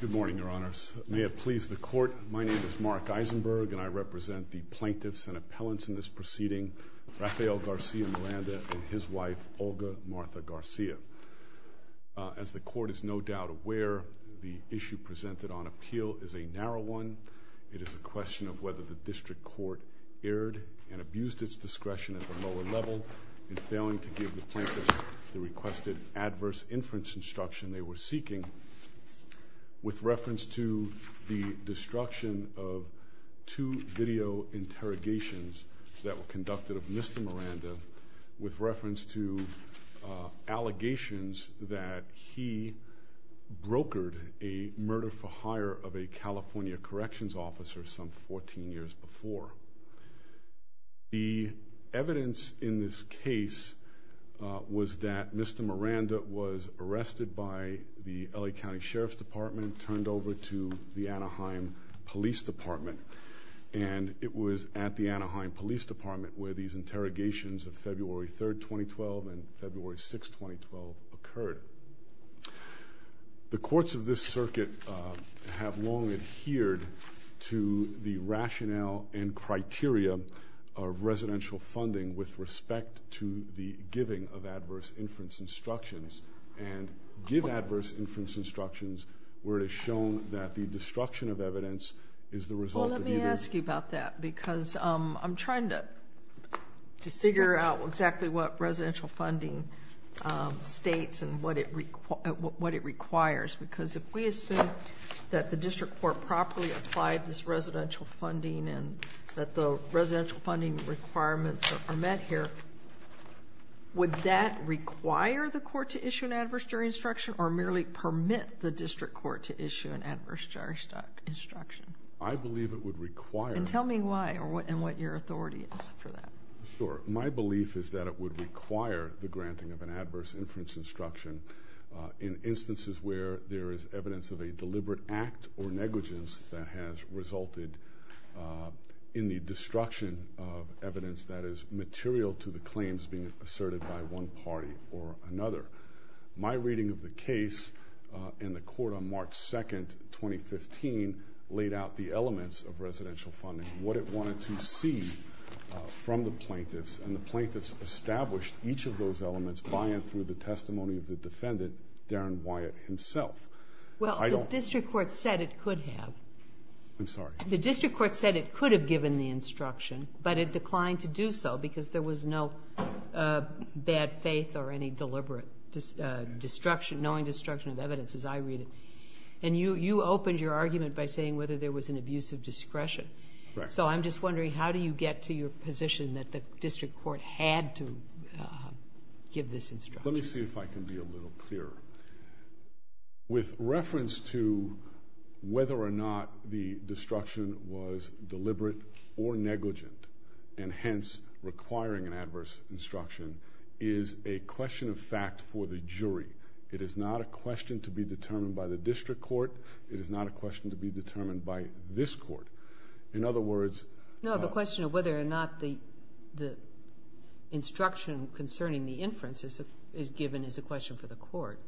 Good morning, Your Honors. May it please the Court, my name is Mark Eisenberg, and I represent the plaintiffs and appellants in this proceeding, Rafael Garcia Miranda and his wife, Olga Martha Garcia. As the Court is no doubt aware, the issue presented on appeal is a narrow one. It is a question of whether the District Court erred and abused its discretion at the lower level in failing to give the plaintiffs the requested adverse inference instruction they were seeking with reference to the destruction of two video interrogations that were conducted of Mr. Miranda with reference to allegations that he brokered a murder-for-hire of a California corrections officer some 14 years before. The evidence in this case was that Mr. Miranda was arrested by the L.A. County Sheriff's Department, turned over to the Anaheim Police Department, and it was at the Anaheim Police Department where these interrogations of February the rationale and criteria of residential funding with respect to the giving of adverse inference instructions, and give adverse inference instructions where it is shown that the destruction of evidence is the result of either... Well, let me ask you about that, because I'm trying to figure out exactly what residential funding states and what it requires, because if we assume that the District Court properly applied this residential funding and that the residential funding requirements are met here, would that require the court to issue an adverse jury instruction or merely permit the District Court to issue an adverse jury instruction? I believe it would require... Tell me why and what your authority is for that. My belief is that it would require the granting of an adverse inference instruction in instances where there is evidence of a deliberate act or negligence that has resulted in the destruction of evidence that is material to the claims being asserted by one party or another. My reading of the case in the court on March 2, 2015, laid out the elements of residential funding, what it wanted to see from the plaintiffs, and the plaintiffs established each of those elements by and through the testimony of the defendant, Darren Wyatt, himself. Well, the District Court said it could have. I'm sorry. The District Court said it could have given the instruction, but it declined to do so because there was no bad faith or any deliberate destruction, knowing destruction of evidence as I read it. You opened your argument by saying whether there was an abuse of discretion. Correct. I'm just wondering how do you get to your Let me see if I can be a little clearer. With reference to whether or not the destruction was deliberate or negligent, and hence requiring an adverse instruction, is a question of fact for the jury. It is not a question to be determined by the District Court. It is not a question to be determined by this court. In other words... No, the question of whether or not the instruction concerning the inference is given is a question for the court.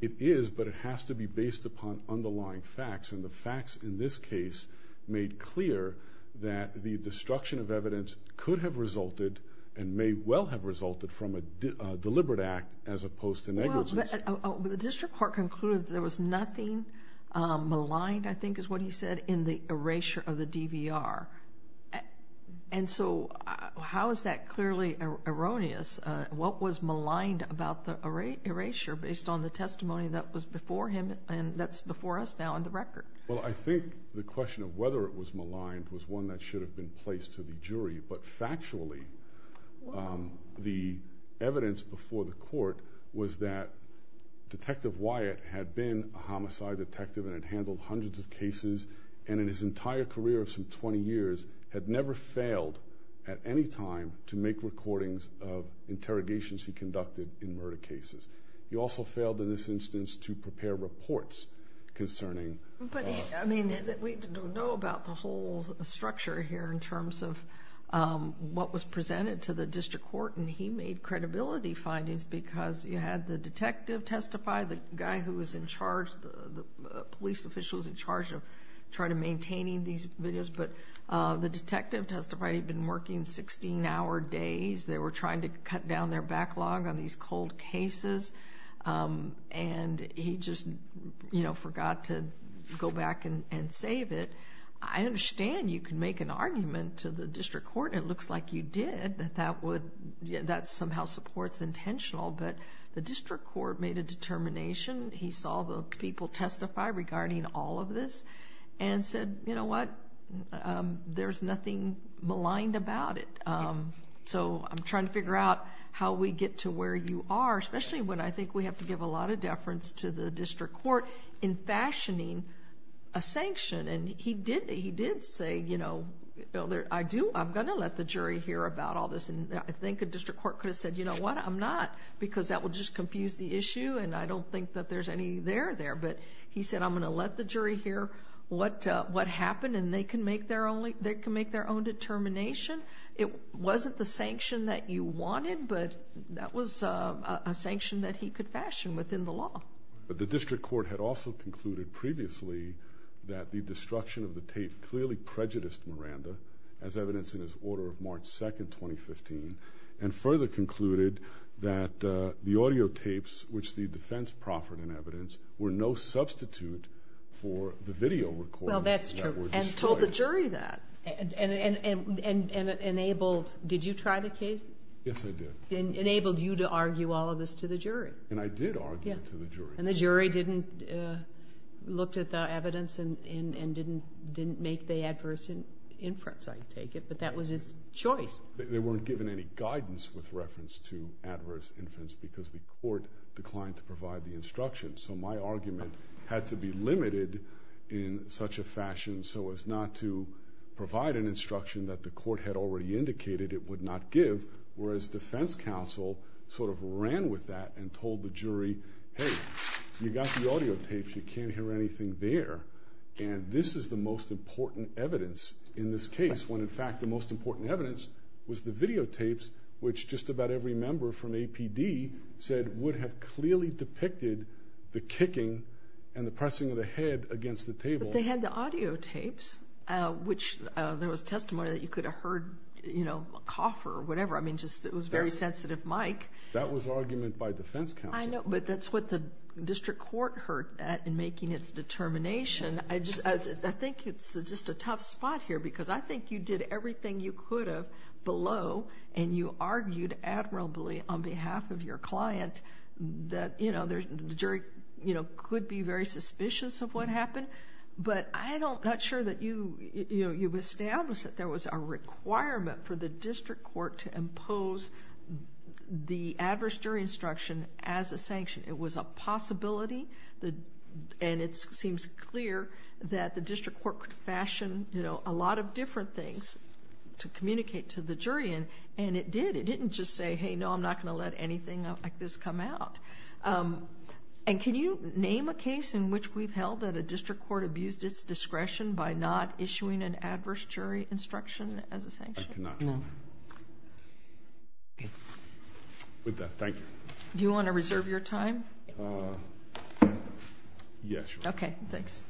It is, but it has to be based upon underlying facts, and the facts in this case made clear that the destruction of evidence could have resulted and may well have resulted from a deliberate act as opposed to negligence. The District Court concluded there was nothing maligned, I think is what he said, in the DVR. How is that clearly erroneous? What was maligned about the erasure based on the testimony that was before him, and that's before us now on the record? I think the question of whether it was maligned was one that should have been placed to the jury, but factually, the evidence before the court was that Detective Wyatt had been a detective for some twenty years, had never failed at any time to make recordings of interrogations he conducted in murder cases. He also failed in this instance to prepare reports concerning... I mean, we don't know about the whole structure here in terms of what was presented to the District Court, and he made credibility findings because you had the detective testify, the guy who was in charge, the police official who was in charge of trying to maintain these videos, but the detective testified he had been working sixteen hour days. They were trying to cut down their backlog on these cold cases, and he just forgot to go back and save it. I understand you can make an argument to the District Court, and it looks like you did, that that somehow supports intentional, but the District Court made a determination He saw the people testify regarding all of this and said, you know what, there's nothing maligned about it. I'm trying to figure out how we get to where you are, especially when I think we have to give a lot of deference to the District Court in fashioning a sanction. He did say, you know, I'm going to let the jury hear about all this, and I think a District Court could have said, you know what, I'm not because that would just confuse the issue and I don't think that there's any there there, but he said I'm going to let the jury hear what happened and they can make their own determination. It wasn't the sanction that you wanted, but that was a sanction that he could fashion within the law. The District Court had also concluded previously that the destruction of the tape clearly prejudiced Miranda, as evidenced in his order of March 2, 2015, and further concluded that the audio defense proffered in evidence were no substitute for the video recordings that were destroyed. Well, that's true, and told the jury that, and enabled... did you try the case? Yes, I did. And enabled you to argue all of this to the jury? And I did argue it to the jury. And the jury didn't... looked at the evidence and didn't make the adverse inference, I take it, but that was its choice? They weren't given any guidance with reference to adverse inference because the court declined to provide the instruction. So my argument had to be limited in such a fashion so as not to provide an instruction that the court had already indicated it would not give, whereas defense counsel sort of ran with that and told the jury, hey, you got the audio tapes, you can't hear anything there, and this is the most important evidence in this case, when in fact the most important evidence was the videotapes, which just about every member from APD said would have clearly depicted the kicking and the pressing of the head against the table. But they had the audio tapes, which there was testimony that you could have heard a cough or whatever. I mean, it was a very sensitive mic. That was argument by defense counsel. I know, but that's what the district court heard in making its determination. I think it's just a tough spot here because I think you did everything you could have below, and you argued admirably on behalf of your client that the jury could be very suspicious of what happened, but I'm not sure that you've established that there was a requirement for the district court to impose the adverse jury instruction as a sanction. It was a possibility, and it seems clear that the district court fashioned a lot of different things to communicate to the jury, and it did. It didn't just say, hey, no, I'm not going to let anything like this come out. Can you name a case in which we've held that a district court abused its discretion by not issuing an adverse jury instruction as a sanction? I cannot. No. Okay. With that, thank you. Do you want to reserve your time? Yes, Your Honor. Okay, thanks.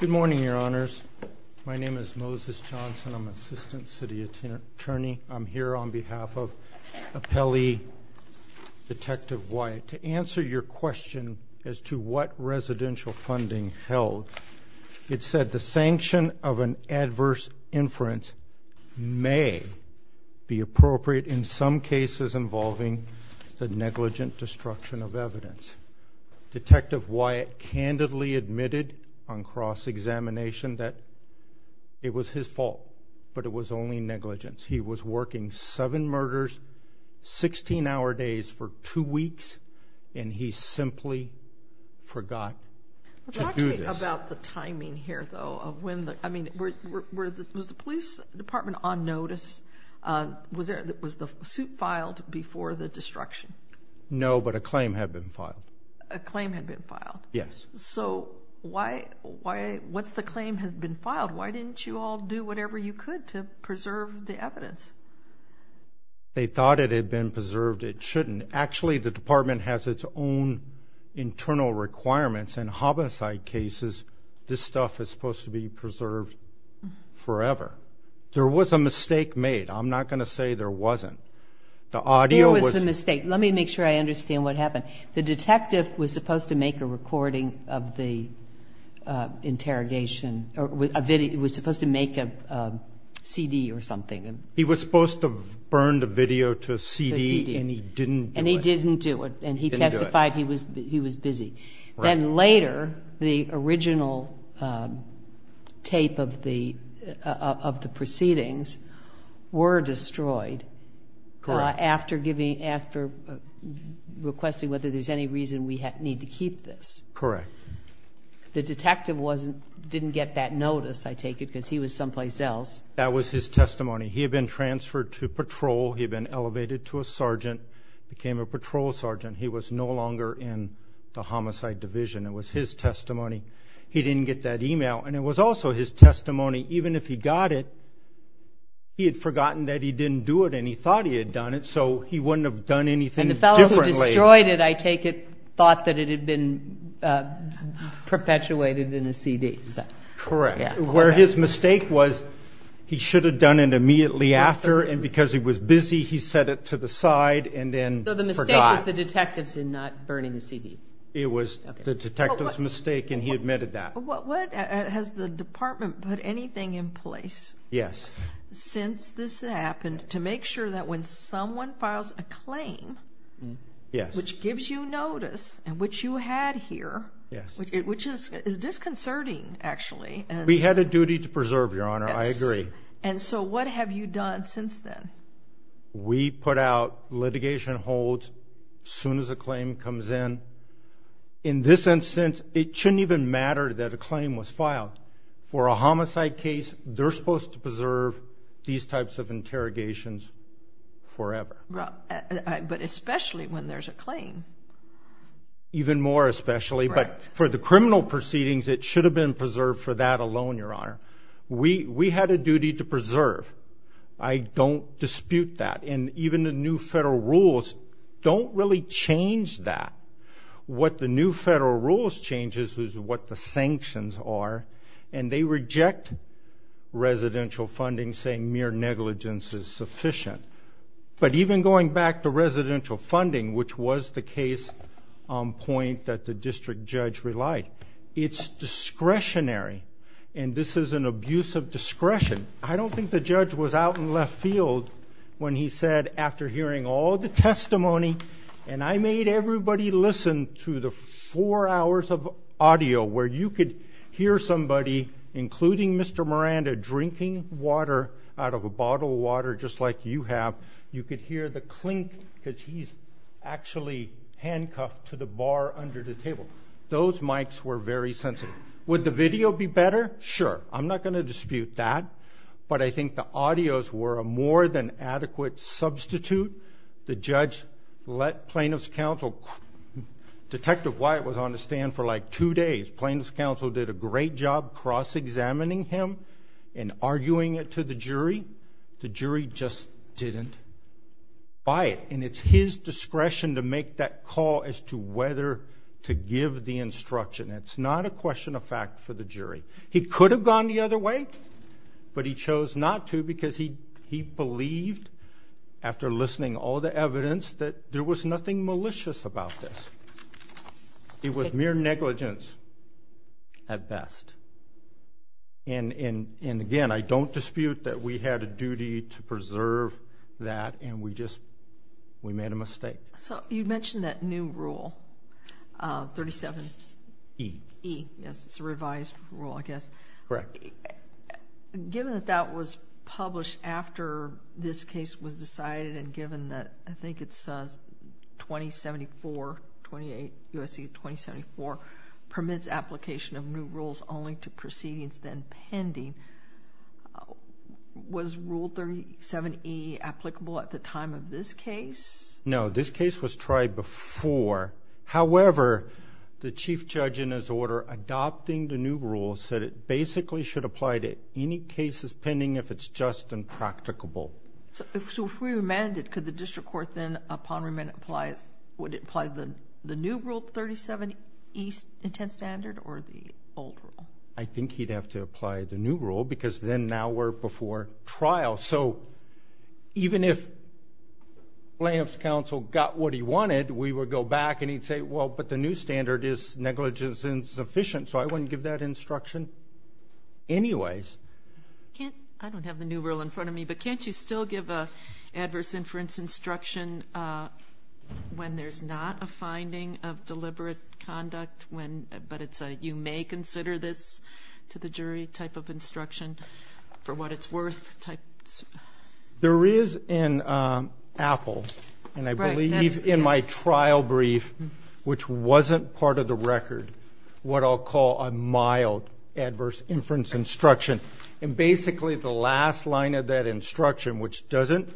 Good morning, Your Honors. My name is Moses Johnson. I'm an assistant city attorney. I'm here on behalf of appellee Detective Wyatt. To answer your question as to what residential funding held, it said the sanction of an adverse inference may be appropriate in some cases involving the negligent destruction of evidence. Detective Wyatt candidly admitted on cross-examination that it was his fault, but it was only negligence. He was working seven murders, 16-hour days for two weeks, and he simply forgot to do this. Talk to me about the timing here, though. I mean, was the police department on notice? Was the suit filed before the destruction? No, but a claim had been filed. A claim had been filed? Yes. So what's the claim has been filed? Why didn't you all do whatever you could to preserve the evidence? They thought it had been preserved. It shouldn't. Actually, the department has its own internal requirements. In homicide cases, this stuff is supposed to be preserved forever. There was a mistake made. I'm not going to say there wasn't. There was a mistake. Let me make sure I understand what happened. The detective was supposed to make a recording of the interrogation. It was supposed to make a CD or something. He was supposed to burn the video to a CD, and he didn't do it. And he didn't do it, and he testified he was busy. Then later, the original tape of the proceedings were destroyed after requesting whether there's any reason we need to keep this. Correct. The detective didn't get that notice, I take it, because he was someplace else. That was his testimony. He had been transferred to patrol. He had been elevated to a sergeant, became a patrol sergeant. He was no longer in the homicide division. It was his testimony. He didn't get that email, and it was also his testimony. Even if he got it, he had forgotten that he didn't do it, and he thought he had done it, so he wouldn't have done anything differently. And the fellow who destroyed it, I take it, thought that it had been perpetuated in a CD. Correct. Where his mistake was he should have done it immediately after, and because he was busy, he set it to the side and then forgot. So the mistake was the detective's in not burning the CD. It was the detective's mistake, and he admitted that. What has the department put anything in place since this happened to make sure that when someone files a claim, which gives you notice, and which you had here, which is disconcerting, actually. We had a duty to preserve, Your Honor. I agree. And so what have you done since then? We put out litigation holds as soon as a claim comes in. In this instance, it shouldn't even matter that a claim was filed. For a homicide case, they're supposed to preserve these types of interrogations forever. But especially when there's a claim. Even more especially, but for the criminal proceedings, it should have been preserved for that alone, Your Honor. We had a duty to preserve. I don't dispute that. And even the new federal rules don't really change that. What the new federal rules change is what the sanctions are, and they reject residential funding saying mere negligence is sufficient. But even going back to residential funding, which was the case on point that the district judge relied, it's discretionary, and this is an abuse of discretion. I don't think the judge was out in left field when he said, after hearing all the testimony, and I made everybody listen to the four hours of audio where you could hear somebody, including Mr. Miranda, drinking water out of a bottle of water just like you have. You could hear the clink because he's actually handcuffed to the bar under the table. Those mics were very sensitive. Would the video be better? Sure. I'm not going to dispute that, but I think the audios were a more than adequate substitute. The judge let plaintiff's counsel, Detective Wyatt was on the stand for like two days. Plaintiff's counsel did a great job cross-examining him and arguing it to the jury. The jury just didn't buy it, and it's his discretion to make that call as to whether to give the instruction. It's not a question of fact for the jury. He could have gone the other way, but he chose not to because he believed, after listening to all the evidence, that there was nothing malicious about this. It was mere negligence at best. And, again, I don't dispute that we had a duty to preserve that, and we just made a mistake. You mentioned that new rule, 37E. Yes, it's a revised rule, I guess. Correct. Given that that was published after this case was decided and given that, I think it's 2074, 28 U.S.C. 2074, permits application of new rules only to proceedings then pending. Was Rule 37E applicable at the time of this case? No. This case was tried before. However, the Chief Judge, in his order, adopting the new rule, said it basically should apply to any cases pending if it's just impracticable. If we remanded, could the district court then, upon remand, apply... would it apply the new Rule 37E, intent standard, or the old rule? I think he'd have to apply the new rule because then now we're before trial. So even if layoff's counsel got what he wanted, we would go back and he'd say, well, but the new standard is negligence insufficient, so I wouldn't give that instruction anyways. I don't have the new rule in front of me, but can't you still give an adverse inference instruction when there's not a finding of deliberate conduct, but it's a you-may-consider-this-to-the-jury type of instruction for what it's worth type? There is in Apple, and I believe in my trial brief, which wasn't part of the record, what I'll call a mild adverse inference instruction. And basically the last line of that instruction, which doesn't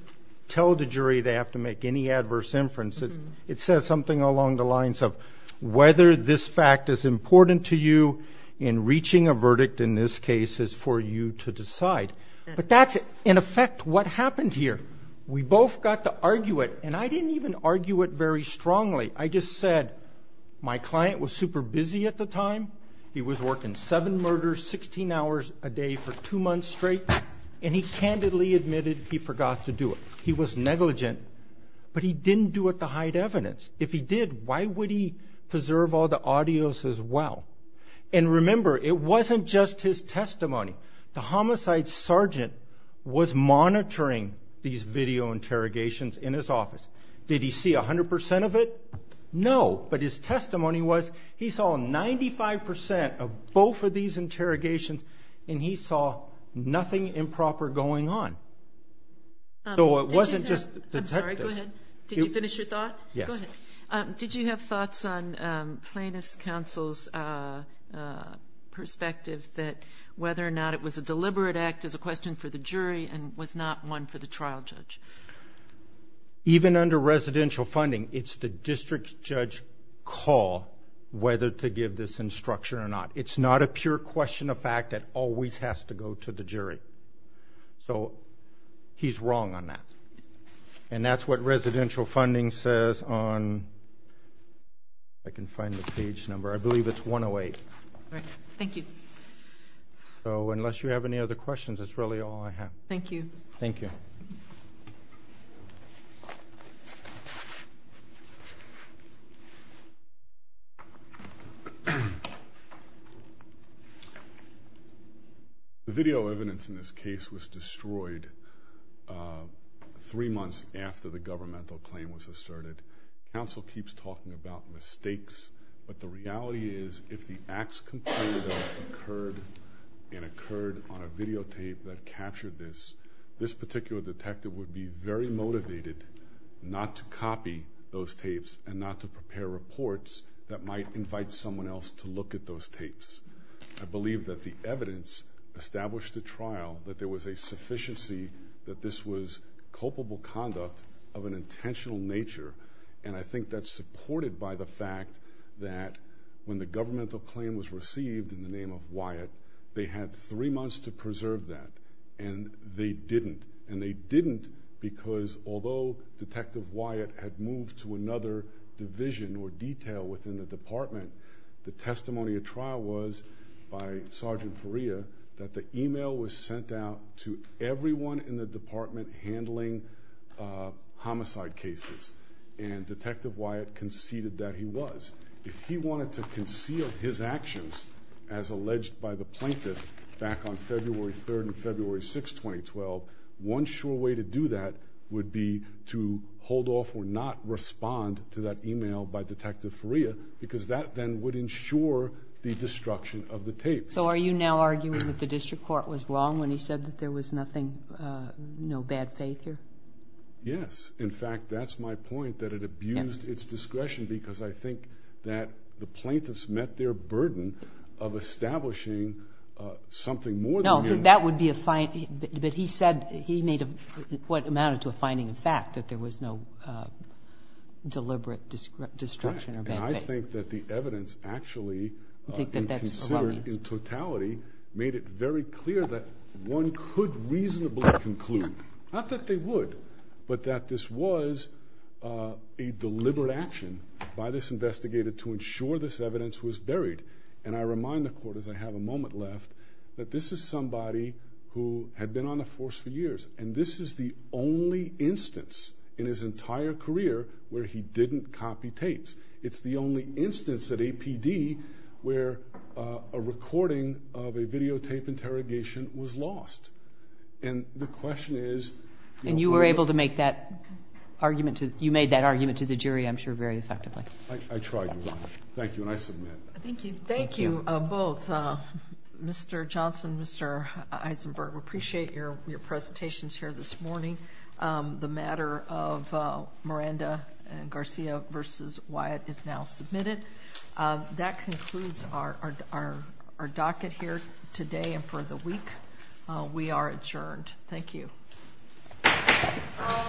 tell the jury they have to make any adverse inferences, it says something along the lines of whether this fact is important to you in reaching a verdict in this case is for you to decide. But that's, in effect, what happened here. We both got to argue it, and I didn't even argue it very strongly. I just said my client was super busy at the time. He was working seven murders, 16 hours a day for two months straight, and he candidly admitted he forgot to do it. He was negligent, but he didn't do it to hide evidence. If he did, why would he preserve all the audios as well? And remember, it wasn't just his testimony. The homicide sergeant was monitoring these video interrogations in his office. Did he see 100% of it? No, but his testimony was he saw 95% of both of these interrogations, and he saw nothing improper going on. So it wasn't just detectives. I'm sorry, go ahead. Did you finish your thought? Yes. Go ahead. Did you have thoughts on plaintiff's counsel's perspective that whether or not it was a deliberate act as a question for the jury and was not one for the trial judge? Even under residential funding, it's the district judge's call whether to give this instruction or not. It's not a pure question of fact that always has to go to the jury. So he's wrong on that. And that's what residential funding says on I can't find the page number. I believe it's 108. All right. Thank you. So unless you have any other questions, that's really all I have. Thank you. Thank you. Thank you. The video evidence in this case was destroyed three months after the governmental claim was asserted. Counsel keeps talking about mistakes, but the reality is if the acts completed that occurred and occurred on a videotape that captured this, this particular detective would be very motivated not to copy those tapes and not to prepare reports that might invite someone else to look at those tapes. I believe that the evidence established at trial that there was a sufficiency that this was culpable conduct of an intentional nature, and I think that's supported by the fact that when the governmental claim was received in the name of Wyatt, they had three months to preserve that, and they didn't, and they didn't because although Detective Wyatt had moved to another division or detail within the department, the testimony at trial was by Sergeant Perea that the email was sent out to everyone in the department handling homicide cases, and Detective Wyatt conceded that he was. If he wanted to conceal his actions as alleged by the plaintiff back on February 3rd and February 6th, 2012, one sure way to do that would be to hold off or not respond to that email by Detective Perea because that then would ensure the destruction of the tape. So are you now arguing that the district court was wrong when he said that there was nothing, no bad faith here? Yes. In fact, that's my point that it abused its discretion because I think that the plaintiffs met their burden of establishing something more than human. No, that would be a fine, but he said he made what amounted to a finding of fact that there was no deliberate destruction or bad faith. And I think that the evidence actually considered in totality made it very clear that one could reasonably conclude, not that they would, but that this was a deliberate action by this investigator to ensure this evidence was buried. And I remind the court, as I have a moment left, that this is somebody who had been on the force for years, and this is the only instance in his entire career where he didn't copy tapes. It's the only instance at APD where a recording of a videotape interrogation was lost. And the question is... And you were able to make that argument to the jury, I'm sure, very effectively. I tried to. Thank you, and I submit. Thank you. Thank you both, Mr. Johnson, Mr. Eisenberg. We appreciate your presentations here this morning. The matter of Miranda and Garcia v. Wyatt is now submitted. That concludes our docket here today and for the week. We are adjourned. Thank you. All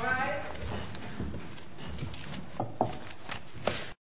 rise.